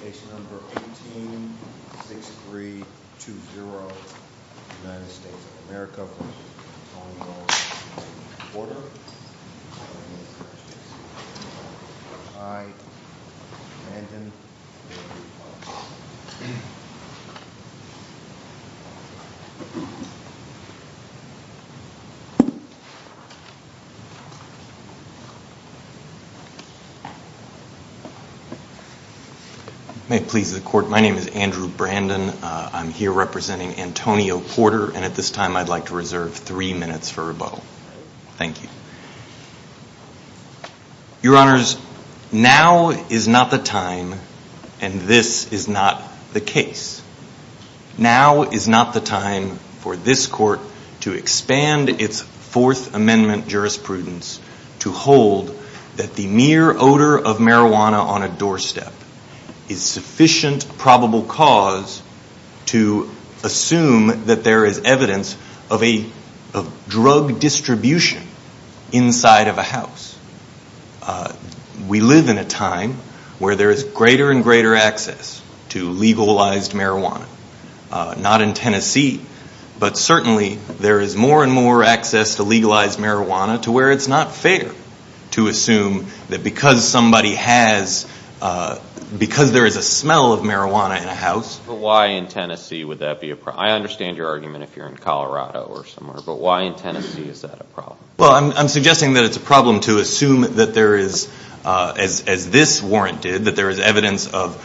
Case Number 186320, United States of America v. Antonio Porter My name is Andrew Brandon. I'm here representing Antonio Porter and at this time I'd like to Your Honors, now is not the time and this is not the case. Now is not the time for this court to expand its Fourth Amendment jurisprudence to hold that the mere odor of marijuana on a doorstep is sufficient probable cause to assume that there is evidence of a drug distribution inside of a house. We live in a time where there is greater and greater access to legalized marijuana. Not in Tennessee, but certainly there is more and more access to legalized marijuana to where it's not fair to assume that because somebody has, because there is a smell of marijuana in a house. But why in Tennessee would that be a problem? I understand your argument if you're in Well, I'm suggesting that it's a problem to assume that there is, as this warrant did, that there is evidence of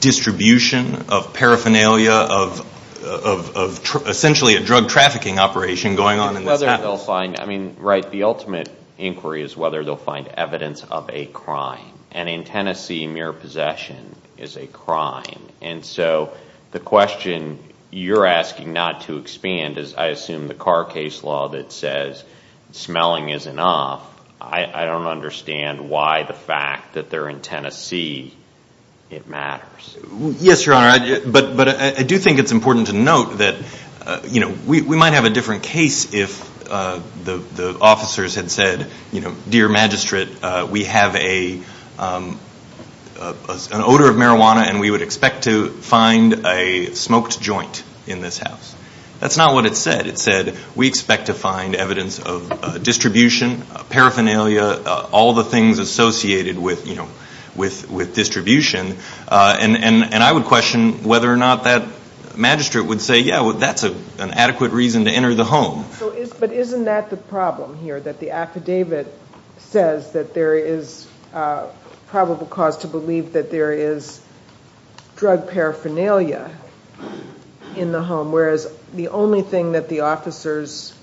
distribution, of paraphernalia, of essentially a drug trafficking operation going on in this house. I mean, right, the ultimate inquiry is whether they'll find evidence of a crime. And in Tennessee, mere possession is a crime. And so the question you're asking not to expand is I assume the Carr case law that says smelling is enough. I don't understand why the fact that they're in Tennessee it matters. Yes, Your Honor. But I do think it's important to note that we might have a different case if the officers had said, dear magistrate, we have an odor of marijuana and we would expect to find evidence of distribution, paraphernalia, all the things associated with distribution. And I would question whether or not that magistrate would say, yeah, that's an adequate reason to enter the home. But isn't that the problem here, that the affidavit says that there is probable cause to believe that there is drug paraphernalia in the home, whereas the only thing that the officers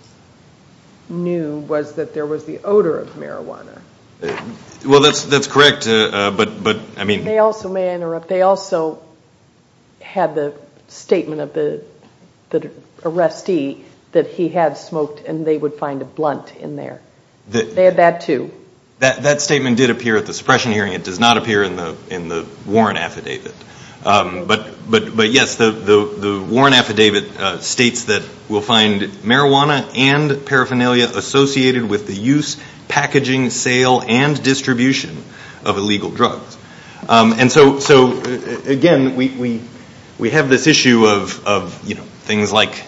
knew was that there was the odor of marijuana. Well, that's correct. They also, may I interrupt, they also had the statement of the arrestee that he had smoked and they would find a blunt in there. They had that too. That statement did appear at the suppression hearing. It does not appear in the Warren affidavit. But yes, the Warren affidavit states that we'll find marijuana and paraphernalia associated with the use, packaging, sale, and distribution of illegal drugs. And so, again, we have this issue of things like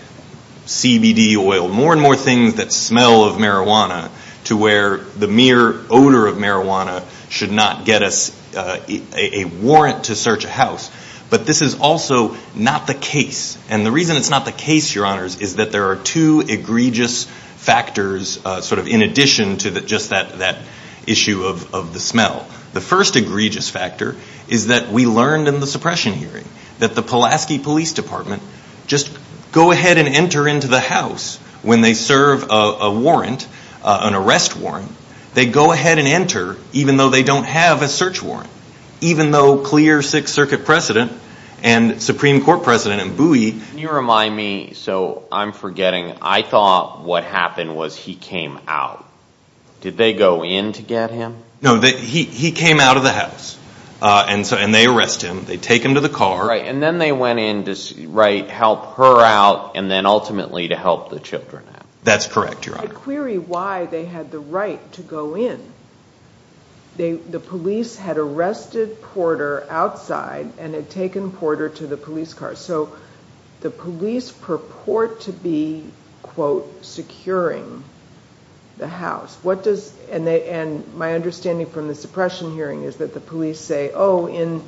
CBD oil, more and more things that smell of marijuana to where the mere odor of marijuana should not get us a warrant to search a house. But this is also not the case. And the reason it's not the case, Your Honors, is that there are two egregious factors sort of in addition to just that issue of the smell. The first egregious factor is that we learned in the suppression hearing that the Pulaski arrest warrant, they go ahead and enter even though they don't have a search warrant, even though clear Sixth Circuit precedent and Supreme Court precedent and buoy. Can you remind me, so I'm forgetting, I thought what happened was he came out. Did they go in to get him? No, he came out of the house and they arrest him. They take him to the car. And then they went in to help her out and then ultimately to help the children out. That's correct, Your Honor. But there's a query why they had the right to go in. The police had arrested Porter outside and had taken Porter to the police car. So the police purport to be, quote, securing the house. What does, and my understanding from the suppression hearing is that the police say, oh, in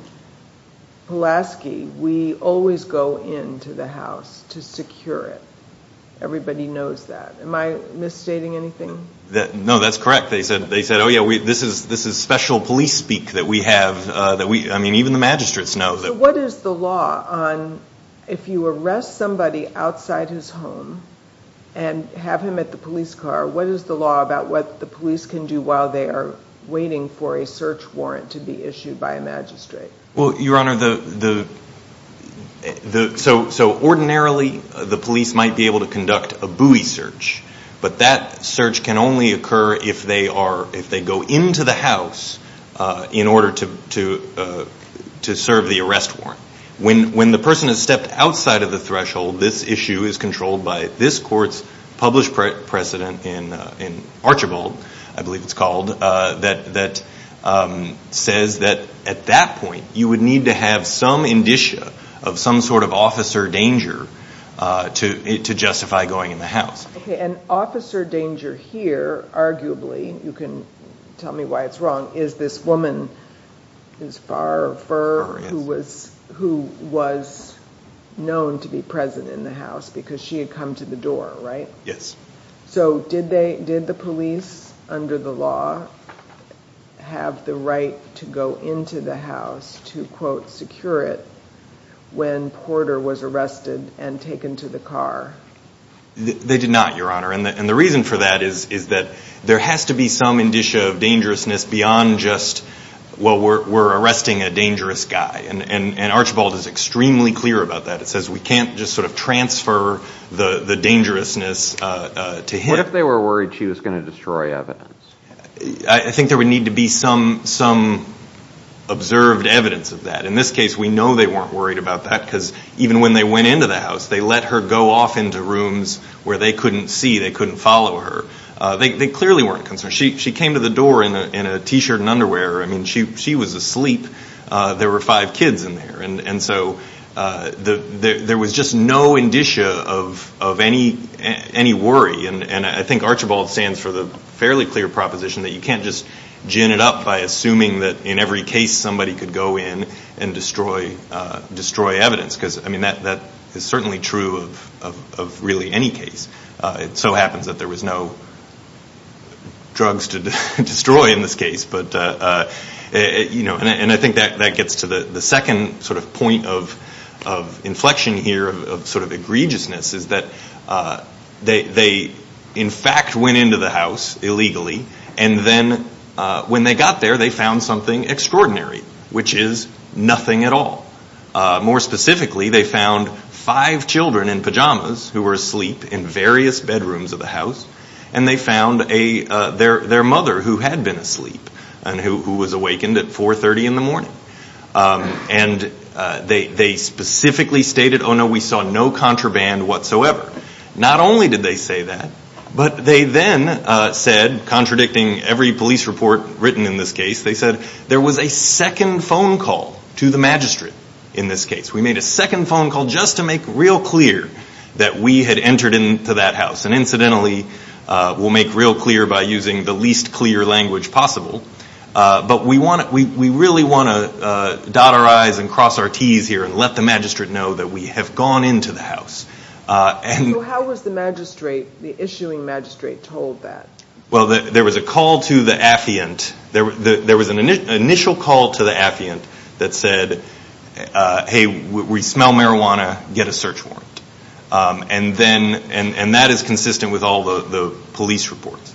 Pulaski, we always go into the house to secure it. Everybody knows that. Am I misstating anything? No, that's correct. They said, oh, yeah, this is special police speak that we have. I mean, even the magistrates know. So what is the law on if you arrest somebody outside his home and have him at the police car, what is the law about what the police can do while they are waiting for a search warrant to be issued by a magistrate? Well, Your Honor, so ordinarily the police might be able to conduct a buoy search, but that search can only occur if they go into the house in order to serve the arrest warrant. When the person has stepped outside of the threshold, this issue is controlled by this court's published precedent in Archibald, I believe it's called, that says that at that point you would need to have some indicia of some sort of officer danger to justify going in the house. Okay, and officer danger here, arguably, you can tell me why it's wrong, is this woman who is far, far, who was known to be present in the house because she had come to the door, right? Yes. So did the police, under the law, have the right to go into the house to, quote, secure it when Porter was arrested and taken to the car? They did not, Your Honor, and the reason for that is that there has to be some indicia of dangerousness beyond just, well, we're arresting a dangerous guy, and Archibald is extremely clear about that. It says we can't just sort of transfer the dangerousness to him. What if they were worried she was going to destroy evidence? I think there would need to be some observed evidence of that. In this case, we know they weren't worried about that because even when they went into the house, they let her go off into rooms where they couldn't see, they couldn't follow her. They clearly weren't concerned. She came to the door in a T-shirt and underwear. I mean, she was asleep. There were five kids in there, and so there was just no indicia of any worry, and I think Archibald stands for the fairly clear proposition that you can't just gin it up by assuming that in every case somebody could go in and destroy evidence because, I mean, that is certainly true of really any case. It so happens that there was no drugs to destroy in this case. And I think that gets to the second sort of point of inflection here, of sort of egregiousness, is that they in fact went into the house illegally, and then when they got there, they found something extraordinary, which is nothing at all. More specifically, they found five children in pajamas who were asleep in various bedrooms of the house, and they found their mother who had been asleep and who was awakened at 4.30 in the morning. And they specifically stated, oh, no, we saw no contraband whatsoever. Not only did they say that, but they then said, contradicting every police report written in this case, they said there was a second phone call to the magistrate in this case. We made a second phone call just to make real clear that we had entered into that house, and incidentally, we'll make real clear by using the least clear language possible. But we really want to dot our I's and cross our T's here and let the magistrate know that we have gone into the house. So how was the magistrate, the issuing magistrate, told that? Well, there was a call to the affiant. There was an initial call to the affiant that said, hey, we smell marijuana, get a search warrant. And that is consistent with all the police reports.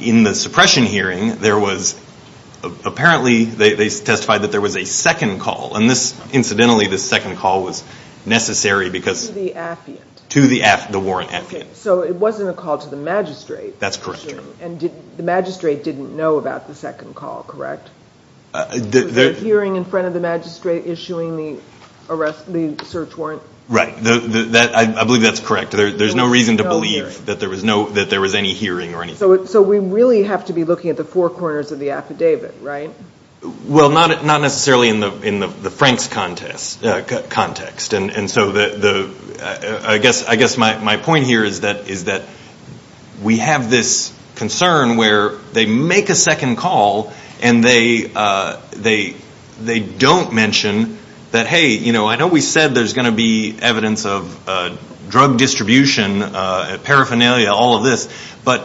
In the suppression hearing, apparently they testified that there was a second call, and incidentally, this second call was necessary because to the warrant affiant. So it wasn't a call to the magistrate. That's correct. And the magistrate didn't know about the second call, correct? Was the hearing in front of the magistrate issuing the search warrant? Right. I believe that's correct. There's no reason to believe that there was any hearing or anything. So we really have to be looking at the four corners of the affidavit, right? Well, not necessarily in the Frank's context. And so I guess my point here is that we have this concern where they make a second call, and they don't mention that, hey, I know we said there's going to be evidence of drug distribution, paraphernalia, all of this, but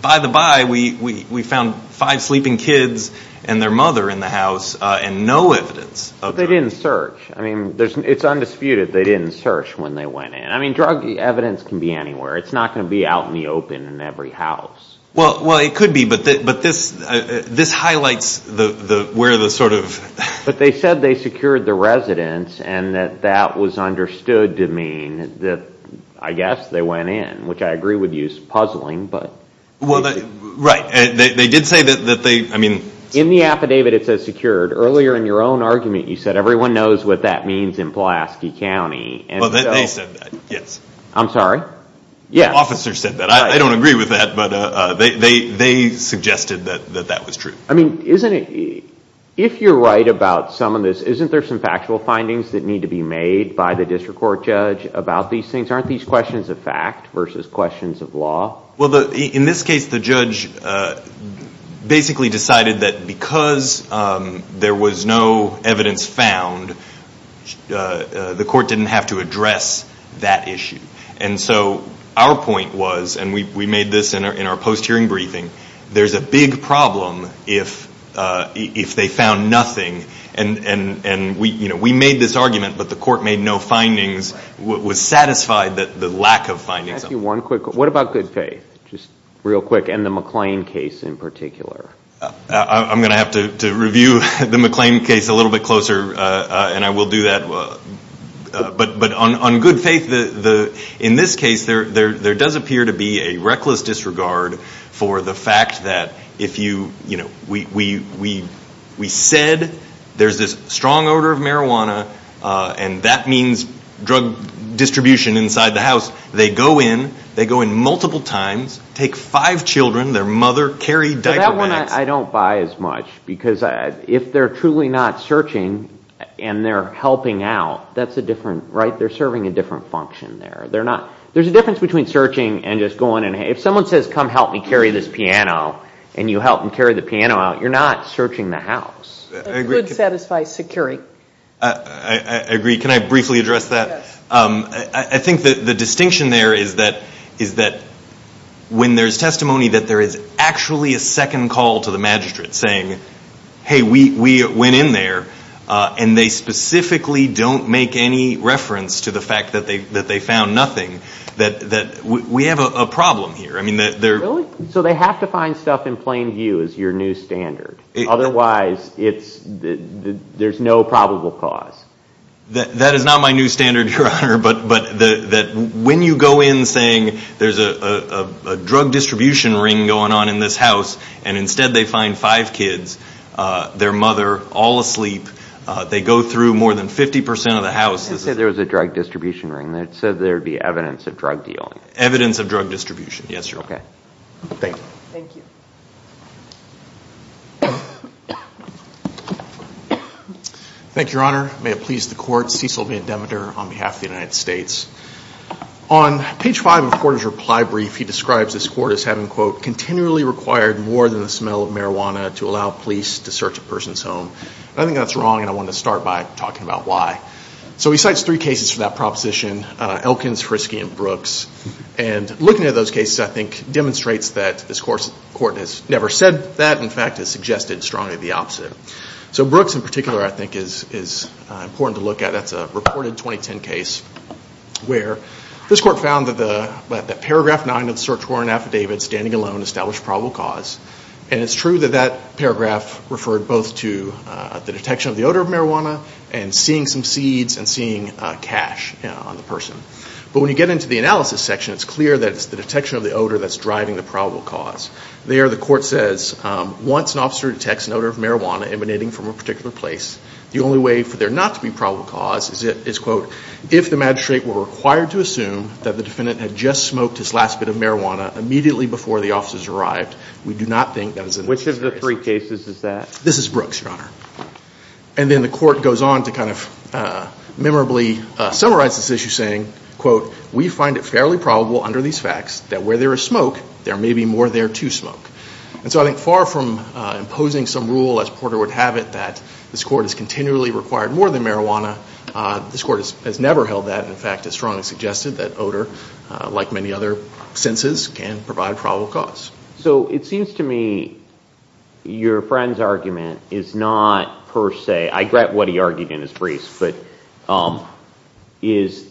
by the by, we found five sleeping kids and their mother in the house and no evidence of drugs. But they didn't search. I mean, it's undisputed they didn't search when they went in. I mean, drug evidence can be anywhere. It's not going to be out in the open in every house. Well, it could be, but this highlights where the sort of. But they said they secured the residence and that that was understood to mean that, I guess, they went in, which I agree would use puzzling, but. Well, right. They did say that they, I mean. In the affidavit it says secured. Earlier in your own argument you said everyone knows what that means in Pulaski County. Well, they said that, yes. I'm sorry? Yes. The officer said that. I don't agree with that, but they suggested that that was true. I mean, isn't it, if you're right about some of this, isn't there some factual findings that need to be made by the district court judge about these things? Aren't these questions of fact versus questions of law? Well, in this case, the judge basically decided that because there was no evidence found, the court didn't have to address that issue. And so our point was, and we made this in our post-hearing briefing, there's a big problem if they found nothing and we made this argument, but the court made no findings, was satisfied that the lack of findings. Can I ask you one quick question? What about Good Faith, just real quick, and the McLean case in particular? I'm going to have to review the McLean case a little bit closer, and I will do that. But on Good Faith, in this case, there does appear to be a reckless disregard for the fact that if we said there's this strong odor of marijuana and that means drug distribution inside the house, they go in, they go in multiple times, take five children, their mother, carry diaper bags. That's one I don't buy as much because if they're truly not searching and they're helping out, that's a different, right? They're serving a different function there. There's a difference between searching and just going in. If someone says, come help me carry this piano, and you help them carry the piano out, you're not searching the house. It could satisfy security. I agree. Can I briefly address that? I think the distinction there is that when there's testimony that there is actually a second call to the magistrate saying, hey, we went in there, and they specifically don't make any reference to the fact that they found nothing, that we have a problem here. Really? So they have to find stuff in plain view as your new standard. Otherwise, there's no probable cause. That is not my new standard, Your Honor. When you go in saying there's a drug distribution ring going on in this house, and instead they find five kids, their mother, all asleep, they go through more than 50% of the house. I said there was a drug distribution ring. It said there would be evidence of drug dealing. Evidence of drug distribution, yes, Your Honor. Okay. Thank you. Thank you. Thank you, Your Honor. May it please the court, Cecil Vandemeter on behalf of the United States. On page five of the court's reply brief, he describes this court as having, quote, continually required more than the smell of marijuana to allow police to search a person's home. I think that's wrong, and I want to start by talking about why. So he cites three cases for that proposition, Elkins, Frisky, and Brooks. And looking at those cases, I think, demonstrates that this court has never said that. In fact, it suggested strongly the opposite. So Brooks in particular, I think, is important to look at. That's a reported 2010 case where this court found that paragraph nine of the search warrant affidavit, standing alone, established probable cause. And it's true that that paragraph referred both to the detection of the odor of marijuana and seeing some seeds and seeing cash on the person. But when you get into the analysis section, it's clear that it's the detection of the odor that's driving the probable cause. There, the court says, once an officer detects an odor of marijuana emanating from a particular place, the only way for there not to be probable cause is, quote, if the magistrate were required to assume that the defendant had just smoked his last bit of marijuana immediately before the officers arrived. We do not think that is the case. Which of the three cases is that? This is Brooks, Your Honor. And then the court goes on to kind of memorably summarize this issue, saying, quote, we find it fairly probable under these facts that where there is smoke, there may be more there to smoke. And so I think far from imposing some rule, as Porter would have it, that this court is continually required more than marijuana, this court has never held that. In fact, it's strongly suggested that odor, like many other senses, can provide probable cause. So it seems to me your friend's argument is not per se, I get what he argued in his briefs, but is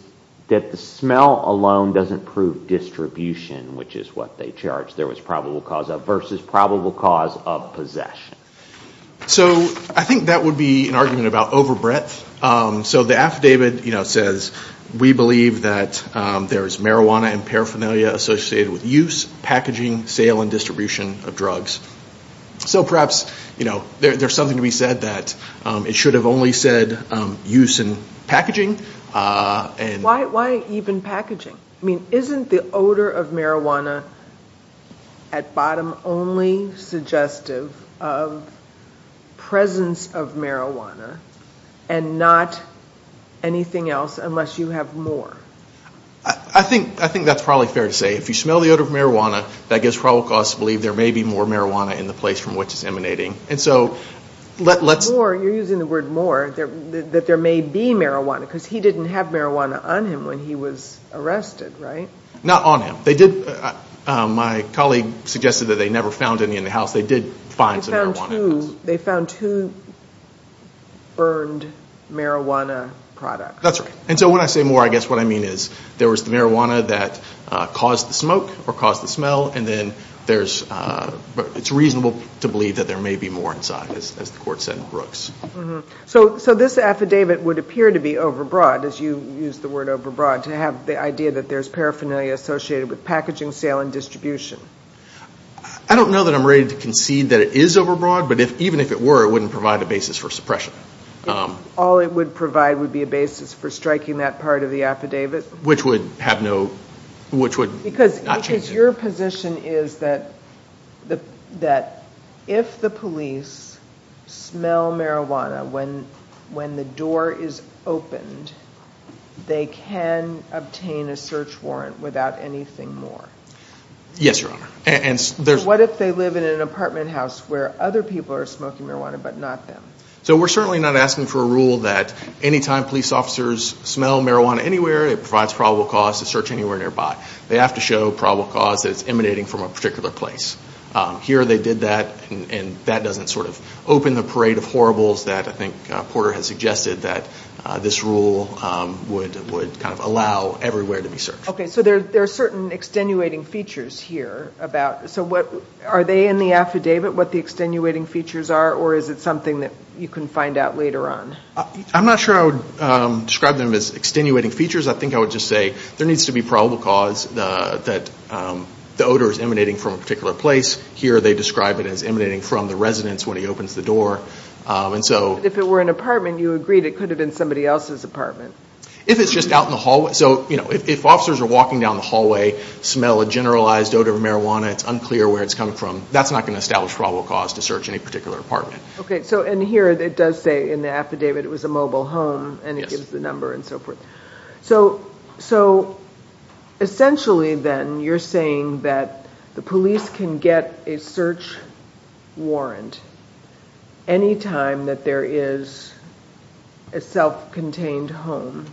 that the smell alone doesn't prove distribution, which is what they charged there was probable cause of, versus probable cause of possession. So I think that would be an argument about overbreadth. So the affidavit says, we believe that there is marijuana and paraphernalia associated with use, packaging, sale, and distribution of drugs. So perhaps, you know, there's something to be said that it should have only said use and packaging. Why even packaging? I mean, isn't the odor of marijuana at bottom only suggestive of presence of marijuana and not anything else unless you have more? I think that's probably fair to say. If you smell the odor of marijuana, that gives probable cause to believe there may be more marijuana in the place from which it's emanating. You're using the word more, that there may be marijuana, because he didn't have marijuana on him when he was arrested, right? Not on him. My colleague suggested that they never found any in the house. They did find some marijuana. They found two burned marijuana products. That's right. And so when I say more, I guess what I mean is there was the marijuana that caused the smoke or caused the smell, and then it's reasonable to believe that there may be more inside, as the court said in Brooks. So this affidavit would appear to be overbroad, as you used the word overbroad, to have the idea that there's paraphernalia associated with packaging, sale, and distribution. I don't know that I'm ready to concede that it is overbroad, but even if it were, it wouldn't provide a basis for suppression. All it would provide would be a basis for striking that part of the affidavit? Which would not change it. Because your position is that if the police smell marijuana when the door is opened, they can obtain a search warrant without anything more. Yes, Your Honor. What if they live in an apartment house where other people are smoking marijuana but not them? So we're certainly not asking for a rule that any time police officers smell marijuana anywhere, it provides probable cause to search anywhere nearby. They have to show probable cause that it's emanating from a particular place. Here they did that, and that doesn't sort of open the parade of horribles that I think Porter has suggested that this rule would kind of allow everywhere to be searched. Okay, so there are certain extenuating features here. Are they in the affidavit, what the extenuating features are, or is it something that you can find out later on? I'm not sure I would describe them as extenuating features. I think I would just say there needs to be probable cause that the odor is emanating from a particular place. Here they describe it as emanating from the residence when he opens the door. If it were an apartment, you agreed it could have been somebody else's apartment. If it's just out in the hallway. So if officers are walking down the hallway, smell a generalized odor of marijuana, it's unclear where it's coming from, that's not going to establish probable cause to search any particular apartment. Okay, and here it does say in the affidavit it was a mobile home, and it gives the number and so forth. So essentially then you're saying that the police can get a search warrant any time that there is a self-contained home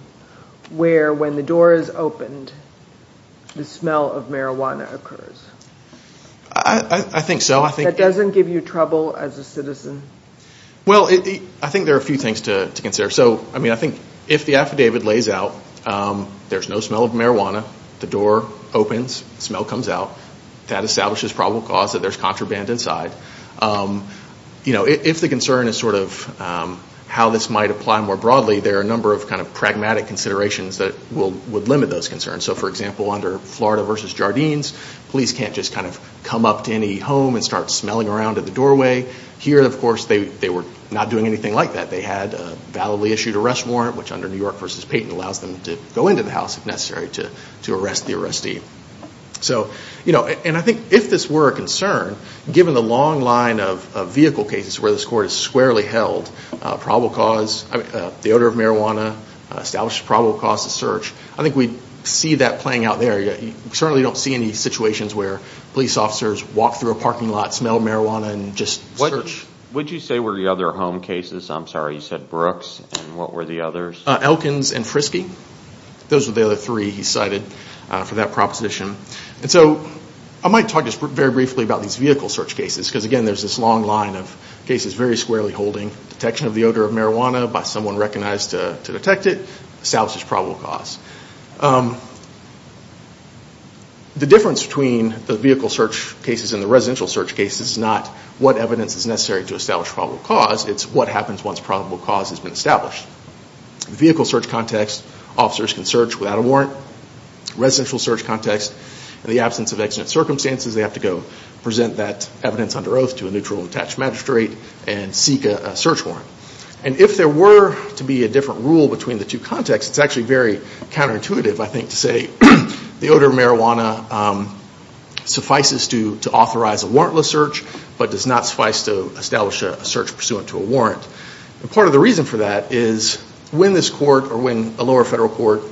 where when the door is opened, the smell of marijuana occurs. I think so. That doesn't give you trouble as a citizen? Well, I think there are a few things to consider. I think if the affidavit lays out there's no smell of marijuana, the door opens, smell comes out, that establishes probable cause that there's contraband inside. If the concern is how this might apply more broadly, there are a number of pragmatic considerations that would limit those concerns. For example, under Florida v. Jardines, police can't just come up to any home and start smelling around at the doorway. Here, of course, they were not doing anything like that. They had a validly issued arrest warrant, which under New York v. Payton allows them to go into the house if necessary to arrest the arrestee. And I think if this were a concern, given the long line of vehicle cases where this court has squarely held the odor of marijuana establishes probable cause to search, I think we'd see that playing out there. You certainly don't see any situations where police officers walk through a parking lot, smell marijuana, and just search. Which, would you say, were the other home cases? I'm sorry, you said Brooks, and what were the others? Elkins and Frisky. Those were the other three he cited for that proposition. And so I might talk just very briefly about these vehicle search cases, because again there's this long line of cases very squarely holding detection of the odor of marijuana by someone recognized to detect it establishes probable cause. The difference between the vehicle search cases and the residential search cases is not what evidence is necessary to establish probable cause, it's what happens once probable cause has been established. In the vehicle search context, officers can search without a warrant. In the residential search context, in the absence of accident circumstances, they have to go present that evidence under oath to a neutral attached magistrate and seek a search warrant. And if there were to be a different rule between the two contexts, it's actually very counterintuitive, I think, to say the odor of marijuana suffices to authorize a warrantless search but does not suffice to establish a search pursuant to a warrant. And part of the reason for that is when this court or when a lower federal court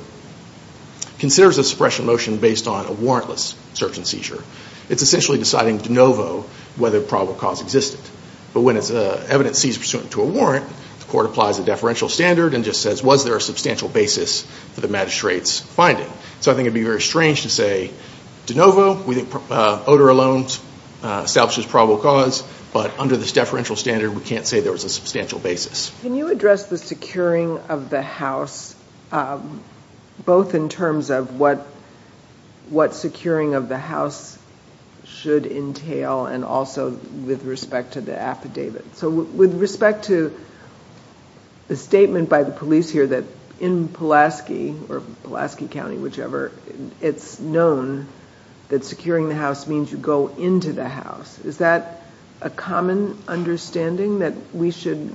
considers a suppression motion based on a warrantless search and seizure, it's essentially deciding de novo whether probable cause existed. But when it's evidence seized pursuant to a warrant, the court applies a deferential standard and just says was there a substantial basis for the magistrate's finding. So I think it would be very strange to say de novo, odor alone establishes probable cause, but under this deferential standard we can't say there was a substantial basis. Can you address the securing of the house both in terms of what securing of the house should entail and also with respect to the affidavit? So with respect to the statement by the police here that in Pulaski or Pulaski County, whichever, it's known that securing the house means you go into the house. Is that a common understanding that we should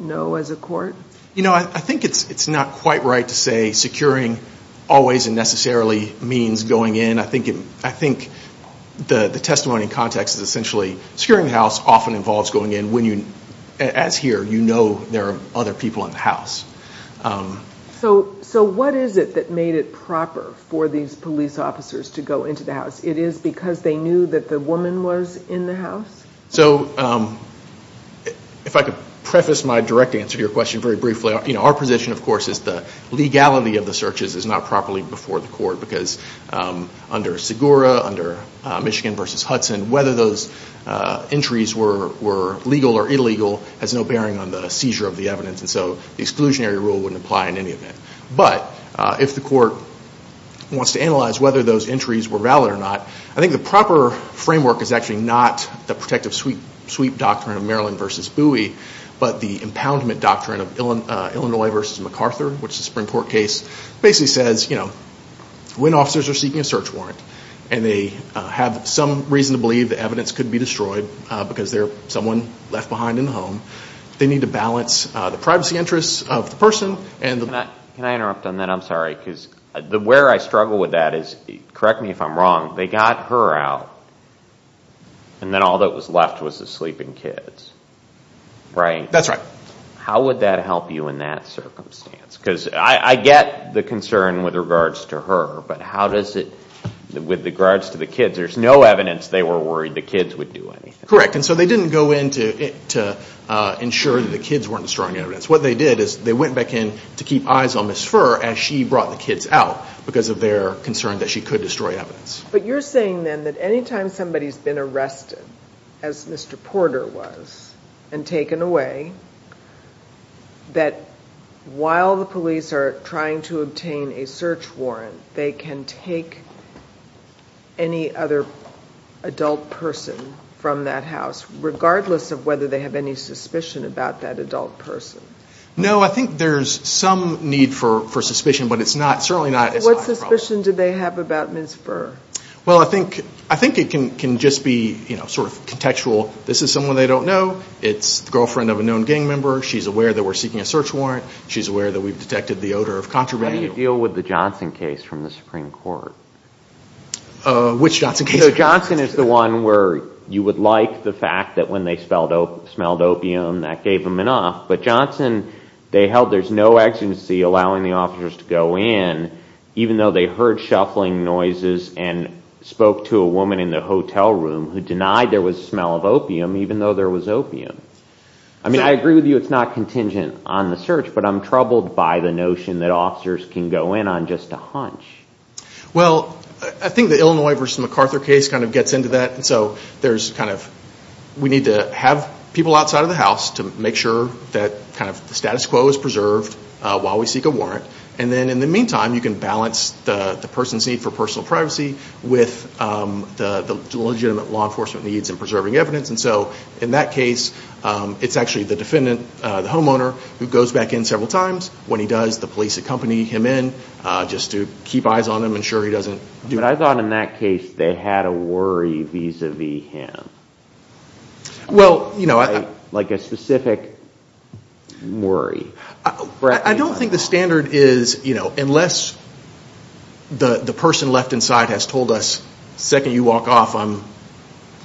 know as a court? You know, I think it's not quite right to say securing always and necessarily means going in. I think the testimony in context is essentially securing the house often involves going in when you, as here, you know there are other people in the house. So what is it that made it proper for these police officers to go into the house? It is because they knew that the woman was in the house? So if I could preface my direct answer to your question very briefly, our position, of course, is the legality of the searches is not properly before the court because under Segura, under Michigan v. Hudson, whether those entries were legal or illegal has no bearing on the seizure of the evidence. And so the exclusionary rule wouldn't apply in any event. But if the court wants to analyze whether those entries were valid or not, I think the proper framework is actually not the protective sweep doctrine of Maryland v. Bowie, but the impoundment doctrine of Illinois v. MacArthur, which is a Supreme Court case, basically says, you know, when officers are seeking a search warrant and they have some reason to believe the evidence could be destroyed because there's someone left behind in the home, they need to balance the privacy interests of the person and the... Can I interrupt on that? I'm sorry. Because where I struggle with that is, correct me if I'm wrong, they got her out and then all that was left was the sleeping kids, right? That's right. How would that help you in that circumstance? Because I get the concern with regards to her, but how does it... With regards to the kids, there's no evidence they were worried the kids would do anything. Correct. And so they didn't go in to ensure that the kids weren't destroying evidence. What they did is they went back in to keep eyes on Ms. Furr as she brought the kids out because of their concern that she could destroy evidence. But you're saying then that any time somebody's been arrested, as Mr. Porter was, and taken away, that while the police are trying to obtain a search warrant, they can take any other adult person from that house, regardless of whether they have any suspicion about that adult person? No, I think there's some need for suspicion, but it's not... What suspicion do they have about Ms. Furr? Well, I think it can just be sort of contextual. This is someone they don't know. It's the girlfriend of a known gang member. She's aware that we're seeking a search warrant. She's aware that we've detected the odor of contraband. How do you deal with the Johnson case from the Supreme Court? Which Johnson case? So Johnson is the one where you would like the fact that when they smelled opium, that gave them an off. But Johnson, they held there's no exigency allowing the officers to go in, even though they heard shuffling noises and spoke to a woman in the hotel room who denied there was a smell of opium, even though there was opium. I mean, I agree with you it's not contingent on the search, but I'm troubled by the notion that officers can go in on just a hunch. Well, I think the Illinois versus MacArthur case kind of gets into that. So there's kind of, we need to have people outside of the house to make sure that kind of the status quo is preserved while we seek a warrant. And then in the meantime, you can balance the person's need for personal privacy with the legitimate law enforcement needs in preserving evidence. And so in that case, it's actually the defendant, the homeowner, who goes back in several times. When he does, the police accompany him in just to keep eyes on him, ensure he doesn't do anything. But I thought in that case they had a worry vis-a-vis him. Well, you know. Like a specific worry. I don't think the standard is, you know, unless the person left inside has told us, the second you walk off I'm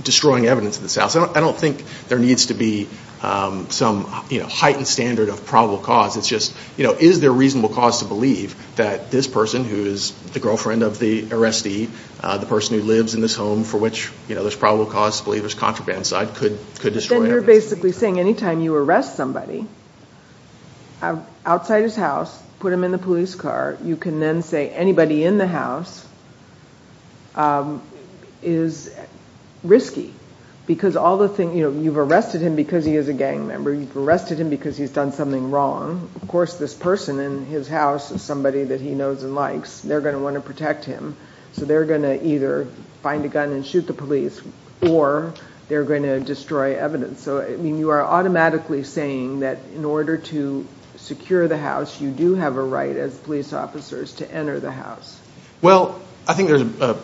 destroying evidence in this house. I don't think there needs to be some heightened standard of probable cause. It's just, you know, is there a reasonable cause to believe that this person who is the girlfriend of the arrestee, the person who lives in this home for which there's probable cause to believe there's contraband inside, could destroy evidence. Then you're basically saying any time you arrest somebody outside his house, put him in the police car, you can then say anybody in the house is risky. Because all the things, you know, you've arrested him because he is a gang member, you've arrested him because he's done something wrong. Of course this person in his house is somebody that he knows and likes. They're going to want to protect him. So they're going to either find a gun and shoot the police or they're going to destroy evidence. So, I mean, you are automatically saying that in order to secure the house, you do have a right as police officers to enter the house. Well, I think there's an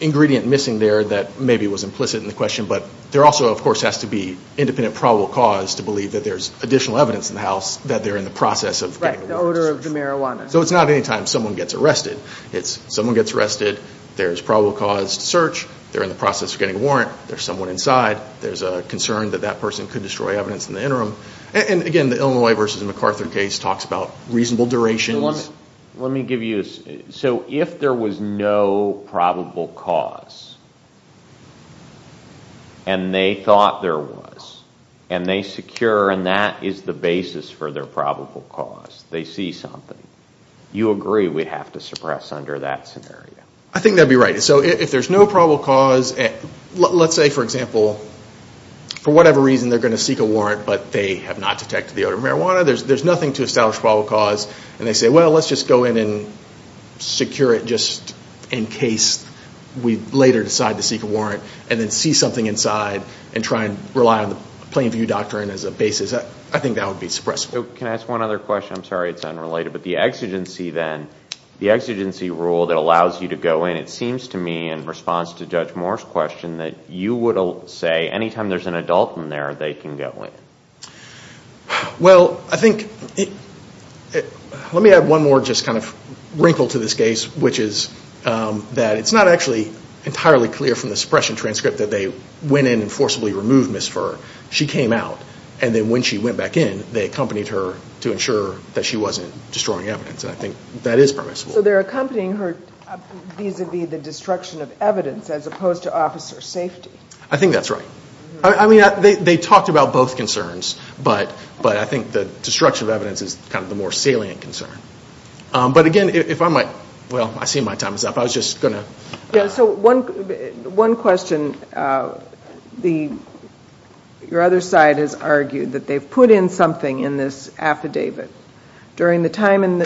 ingredient missing there that maybe was implicit in the question, but there also, of course, has to be independent probable cause to believe that there's additional evidence in the house that they're in the process of getting a warrant. Right, the odor of the marijuana. So it's not any time someone gets arrested. It's someone gets arrested, there's probable cause to search, they're in the process of getting a warrant, there's someone inside, there's a concern that that person could destroy evidence in the interim. And, again, the Illinois v. MacArthur case talks about reasonable durations. Let me give you, so if there was no probable cause, and they thought there was, and they secure, and that is the basis for their probable cause, they see something, you agree we'd have to suppress under that scenario? I think that would be right. So if there's no probable cause, let's say, for example, for whatever reason they're going to seek a warrant, but they have not detected the odor of marijuana, there's nothing to establish probable cause, and they say, well, let's just go in and secure it just in case we later decide to seek a warrant, and then see something inside and try and rely on the plain view doctrine as a basis. I think that would be suppressible. Can I ask one other question? I'm sorry it's unrelated, but the exigency then, the exigency rule that allows you to go in, it seems to me in response to Judge Moore's question that you would say any time there's an adult in there, they can go in. Well, I think, let me add one more just kind of wrinkle to this case, which is that it's not actually entirely clear from the suppression transcript that they went in and forcibly removed Ms. Furr. She came out, and then when she went back in, they accompanied her to ensure that she wasn't destroying evidence, and I think that is permissible. So they're accompanying her vis-à-vis the destruction of evidence as opposed to officer safety. I think that's right. I mean, they talked about both concerns, but I think the destruction of evidence is kind of the more salient concern. But again, if I might, well, I see my time is up. I was just going to. Yeah, so one question. Your other side has argued that they've put in something in this affidavit. During the time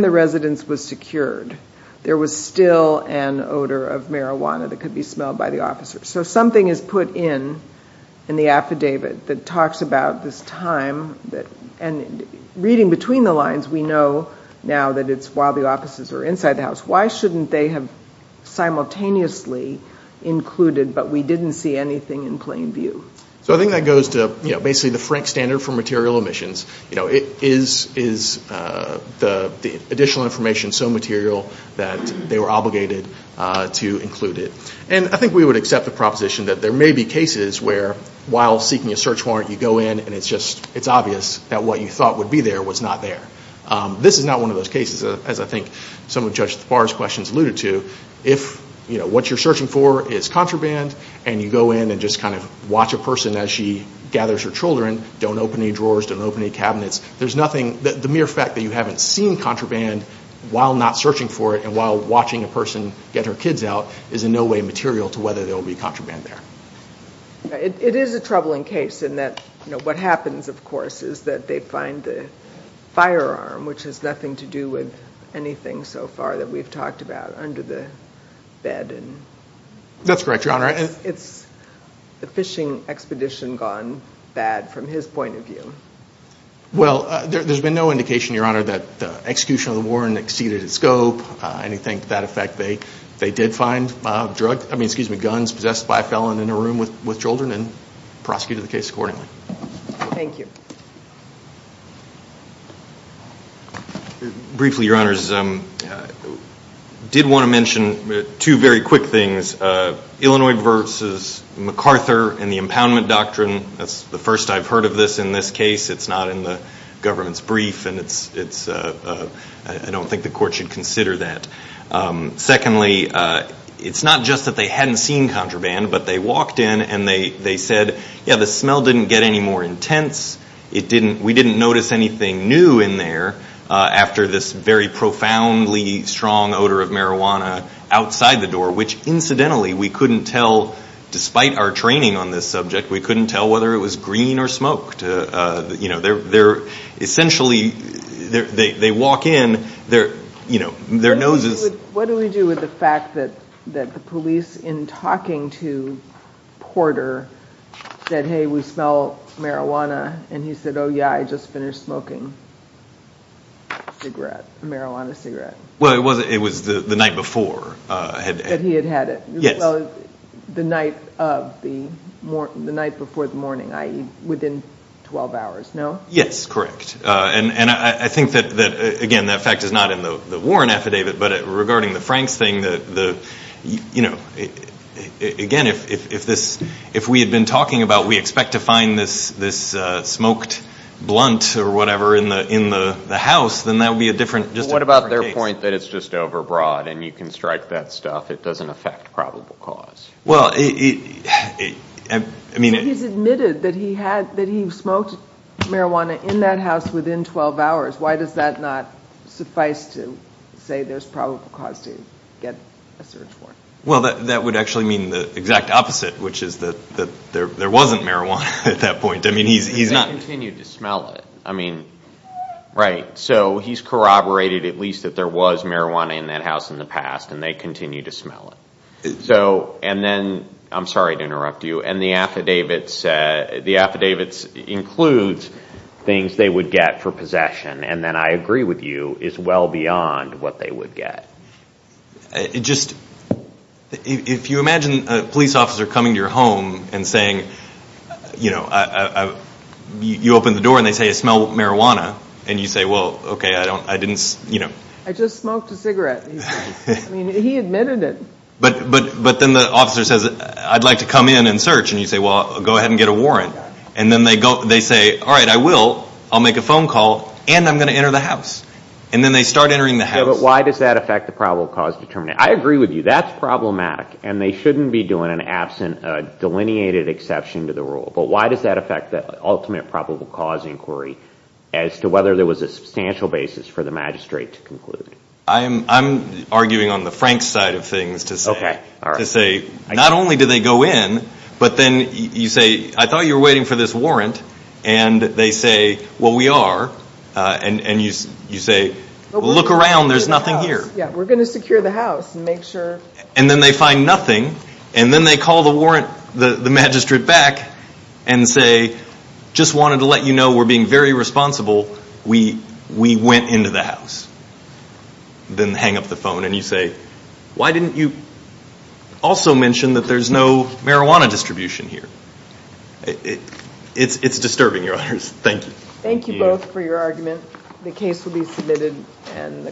the residence was secured, there was still an odor of marijuana that could be smelled by the officers. So something is put in in the affidavit that talks about this time. And reading between the lines, we know now that it's while the officers are inside the house. Why shouldn't they have simultaneously included but we didn't see anything in plain view? So I think that goes to basically the frank standard for material omissions. You know, is the additional information so material that they were obligated to include it? And I think we would accept the proposition that there may be cases where, while seeking a search warrant, you go in and it's just obvious that what you thought would be there was not there. This is not one of those cases, as I think some of Judge Barr's questions alluded to. If what you're searching for is contraband and you go in and just kind of watch a person as she gathers her children, don't open any drawers, don't open any cabinets, the mere fact that you haven't seen contraband while not searching for it and while watching a person get her kids out is in no way material to whether there will be contraband there. It is a troubling case in that what happens, of course, is that they find the firearm, which has nothing to do with anything so far that we've talked about, under the bed. That's correct, Your Honor. Has the fishing expedition gone bad, from his point of view? Well, there's been no indication, Your Honor, that the execution of the warrant exceeded its scope. Anything to that effect, they did find guns possessed by a felon in a room with children and prosecuted the case accordingly. Thank you. Briefly, Your Honors, I did want to mention two very quick things. One is Illinois v. MacArthur and the impoundment doctrine. That's the first I've heard of this in this case. It's not in the government's brief, and I don't think the court should consider that. Secondly, it's not just that they hadn't seen contraband, but they walked in and they said, yeah, the smell didn't get any more intense. We didn't notice anything new in there after this very profoundly strong odor of marijuana outside the door, which incidentally we couldn't tell, despite our training on this subject, we couldn't tell whether it was green or smoked. They're essentially, they walk in, their noses. What do we do with the fact that the police, in talking to Porter, said, hey, we smell marijuana, and he said, oh, yeah, I just finished smoking a cigarette, a marijuana cigarette? Well, it was the night before. That he had had it. Yes. Well, the night before the morning, i.e., within 12 hours, no? Yes, correct. And I think that, again, that fact is not in the Warren affidavit, but regarding the Franks thing, again, if we had been talking about we expect to find this smoked blunt or whatever in the house, then that would be just a different case. What about their point that it's just overbroad and you can strike that stuff, it doesn't affect probable cause? Well, I mean it. He's admitted that he smoked marijuana in that house within 12 hours. Why does that not suffice to say there's probable cause to get a search warrant? Well, that would actually mean the exact opposite, which is that there wasn't marijuana at that point. He continued to smell it. I mean, right. So he's corroborated at least that there was marijuana in that house in the past, and they continue to smell it. So, and then, I'm sorry to interrupt you, and the affidavits includes things they would get for possession, and then I agree with you, is well beyond what they would get. It just, if you imagine a police officer coming to your home and saying, you know, you open the door and they say, I smell marijuana, and you say, well, okay, I didn't, you know. I just smoked a cigarette. I mean, he admitted it. But then the officer says, I'd like to come in and search, and you say, well, go ahead and get a warrant. And then they say, all right, I will. I'll make a phone call, and I'm going to enter the house. And then they start entering the house. But why does that affect the probable cause determination? I agree with you. That's problematic, and they shouldn't be doing an absent, a delineated exception to the rule. But why does that affect the ultimate probable cause inquiry as to whether there was a substantial basis for the magistrate to conclude? I'm arguing on the frank side of things to say, not only do they go in, but then you say, I thought you were waiting for this warrant, and they say, well, we are, and you say, look around. There's nothing here. Yeah, we're going to secure the house and make sure. And then they find nothing, and then they call the magistrate back and say, just wanted to let you know we're being very responsible. We went into the house. Then hang up the phone, and you say, why didn't you also mention that there's no marijuana distribution here? It's disturbing, Your Honors. Thank you. Thank you both for your argument. The case will be submitted.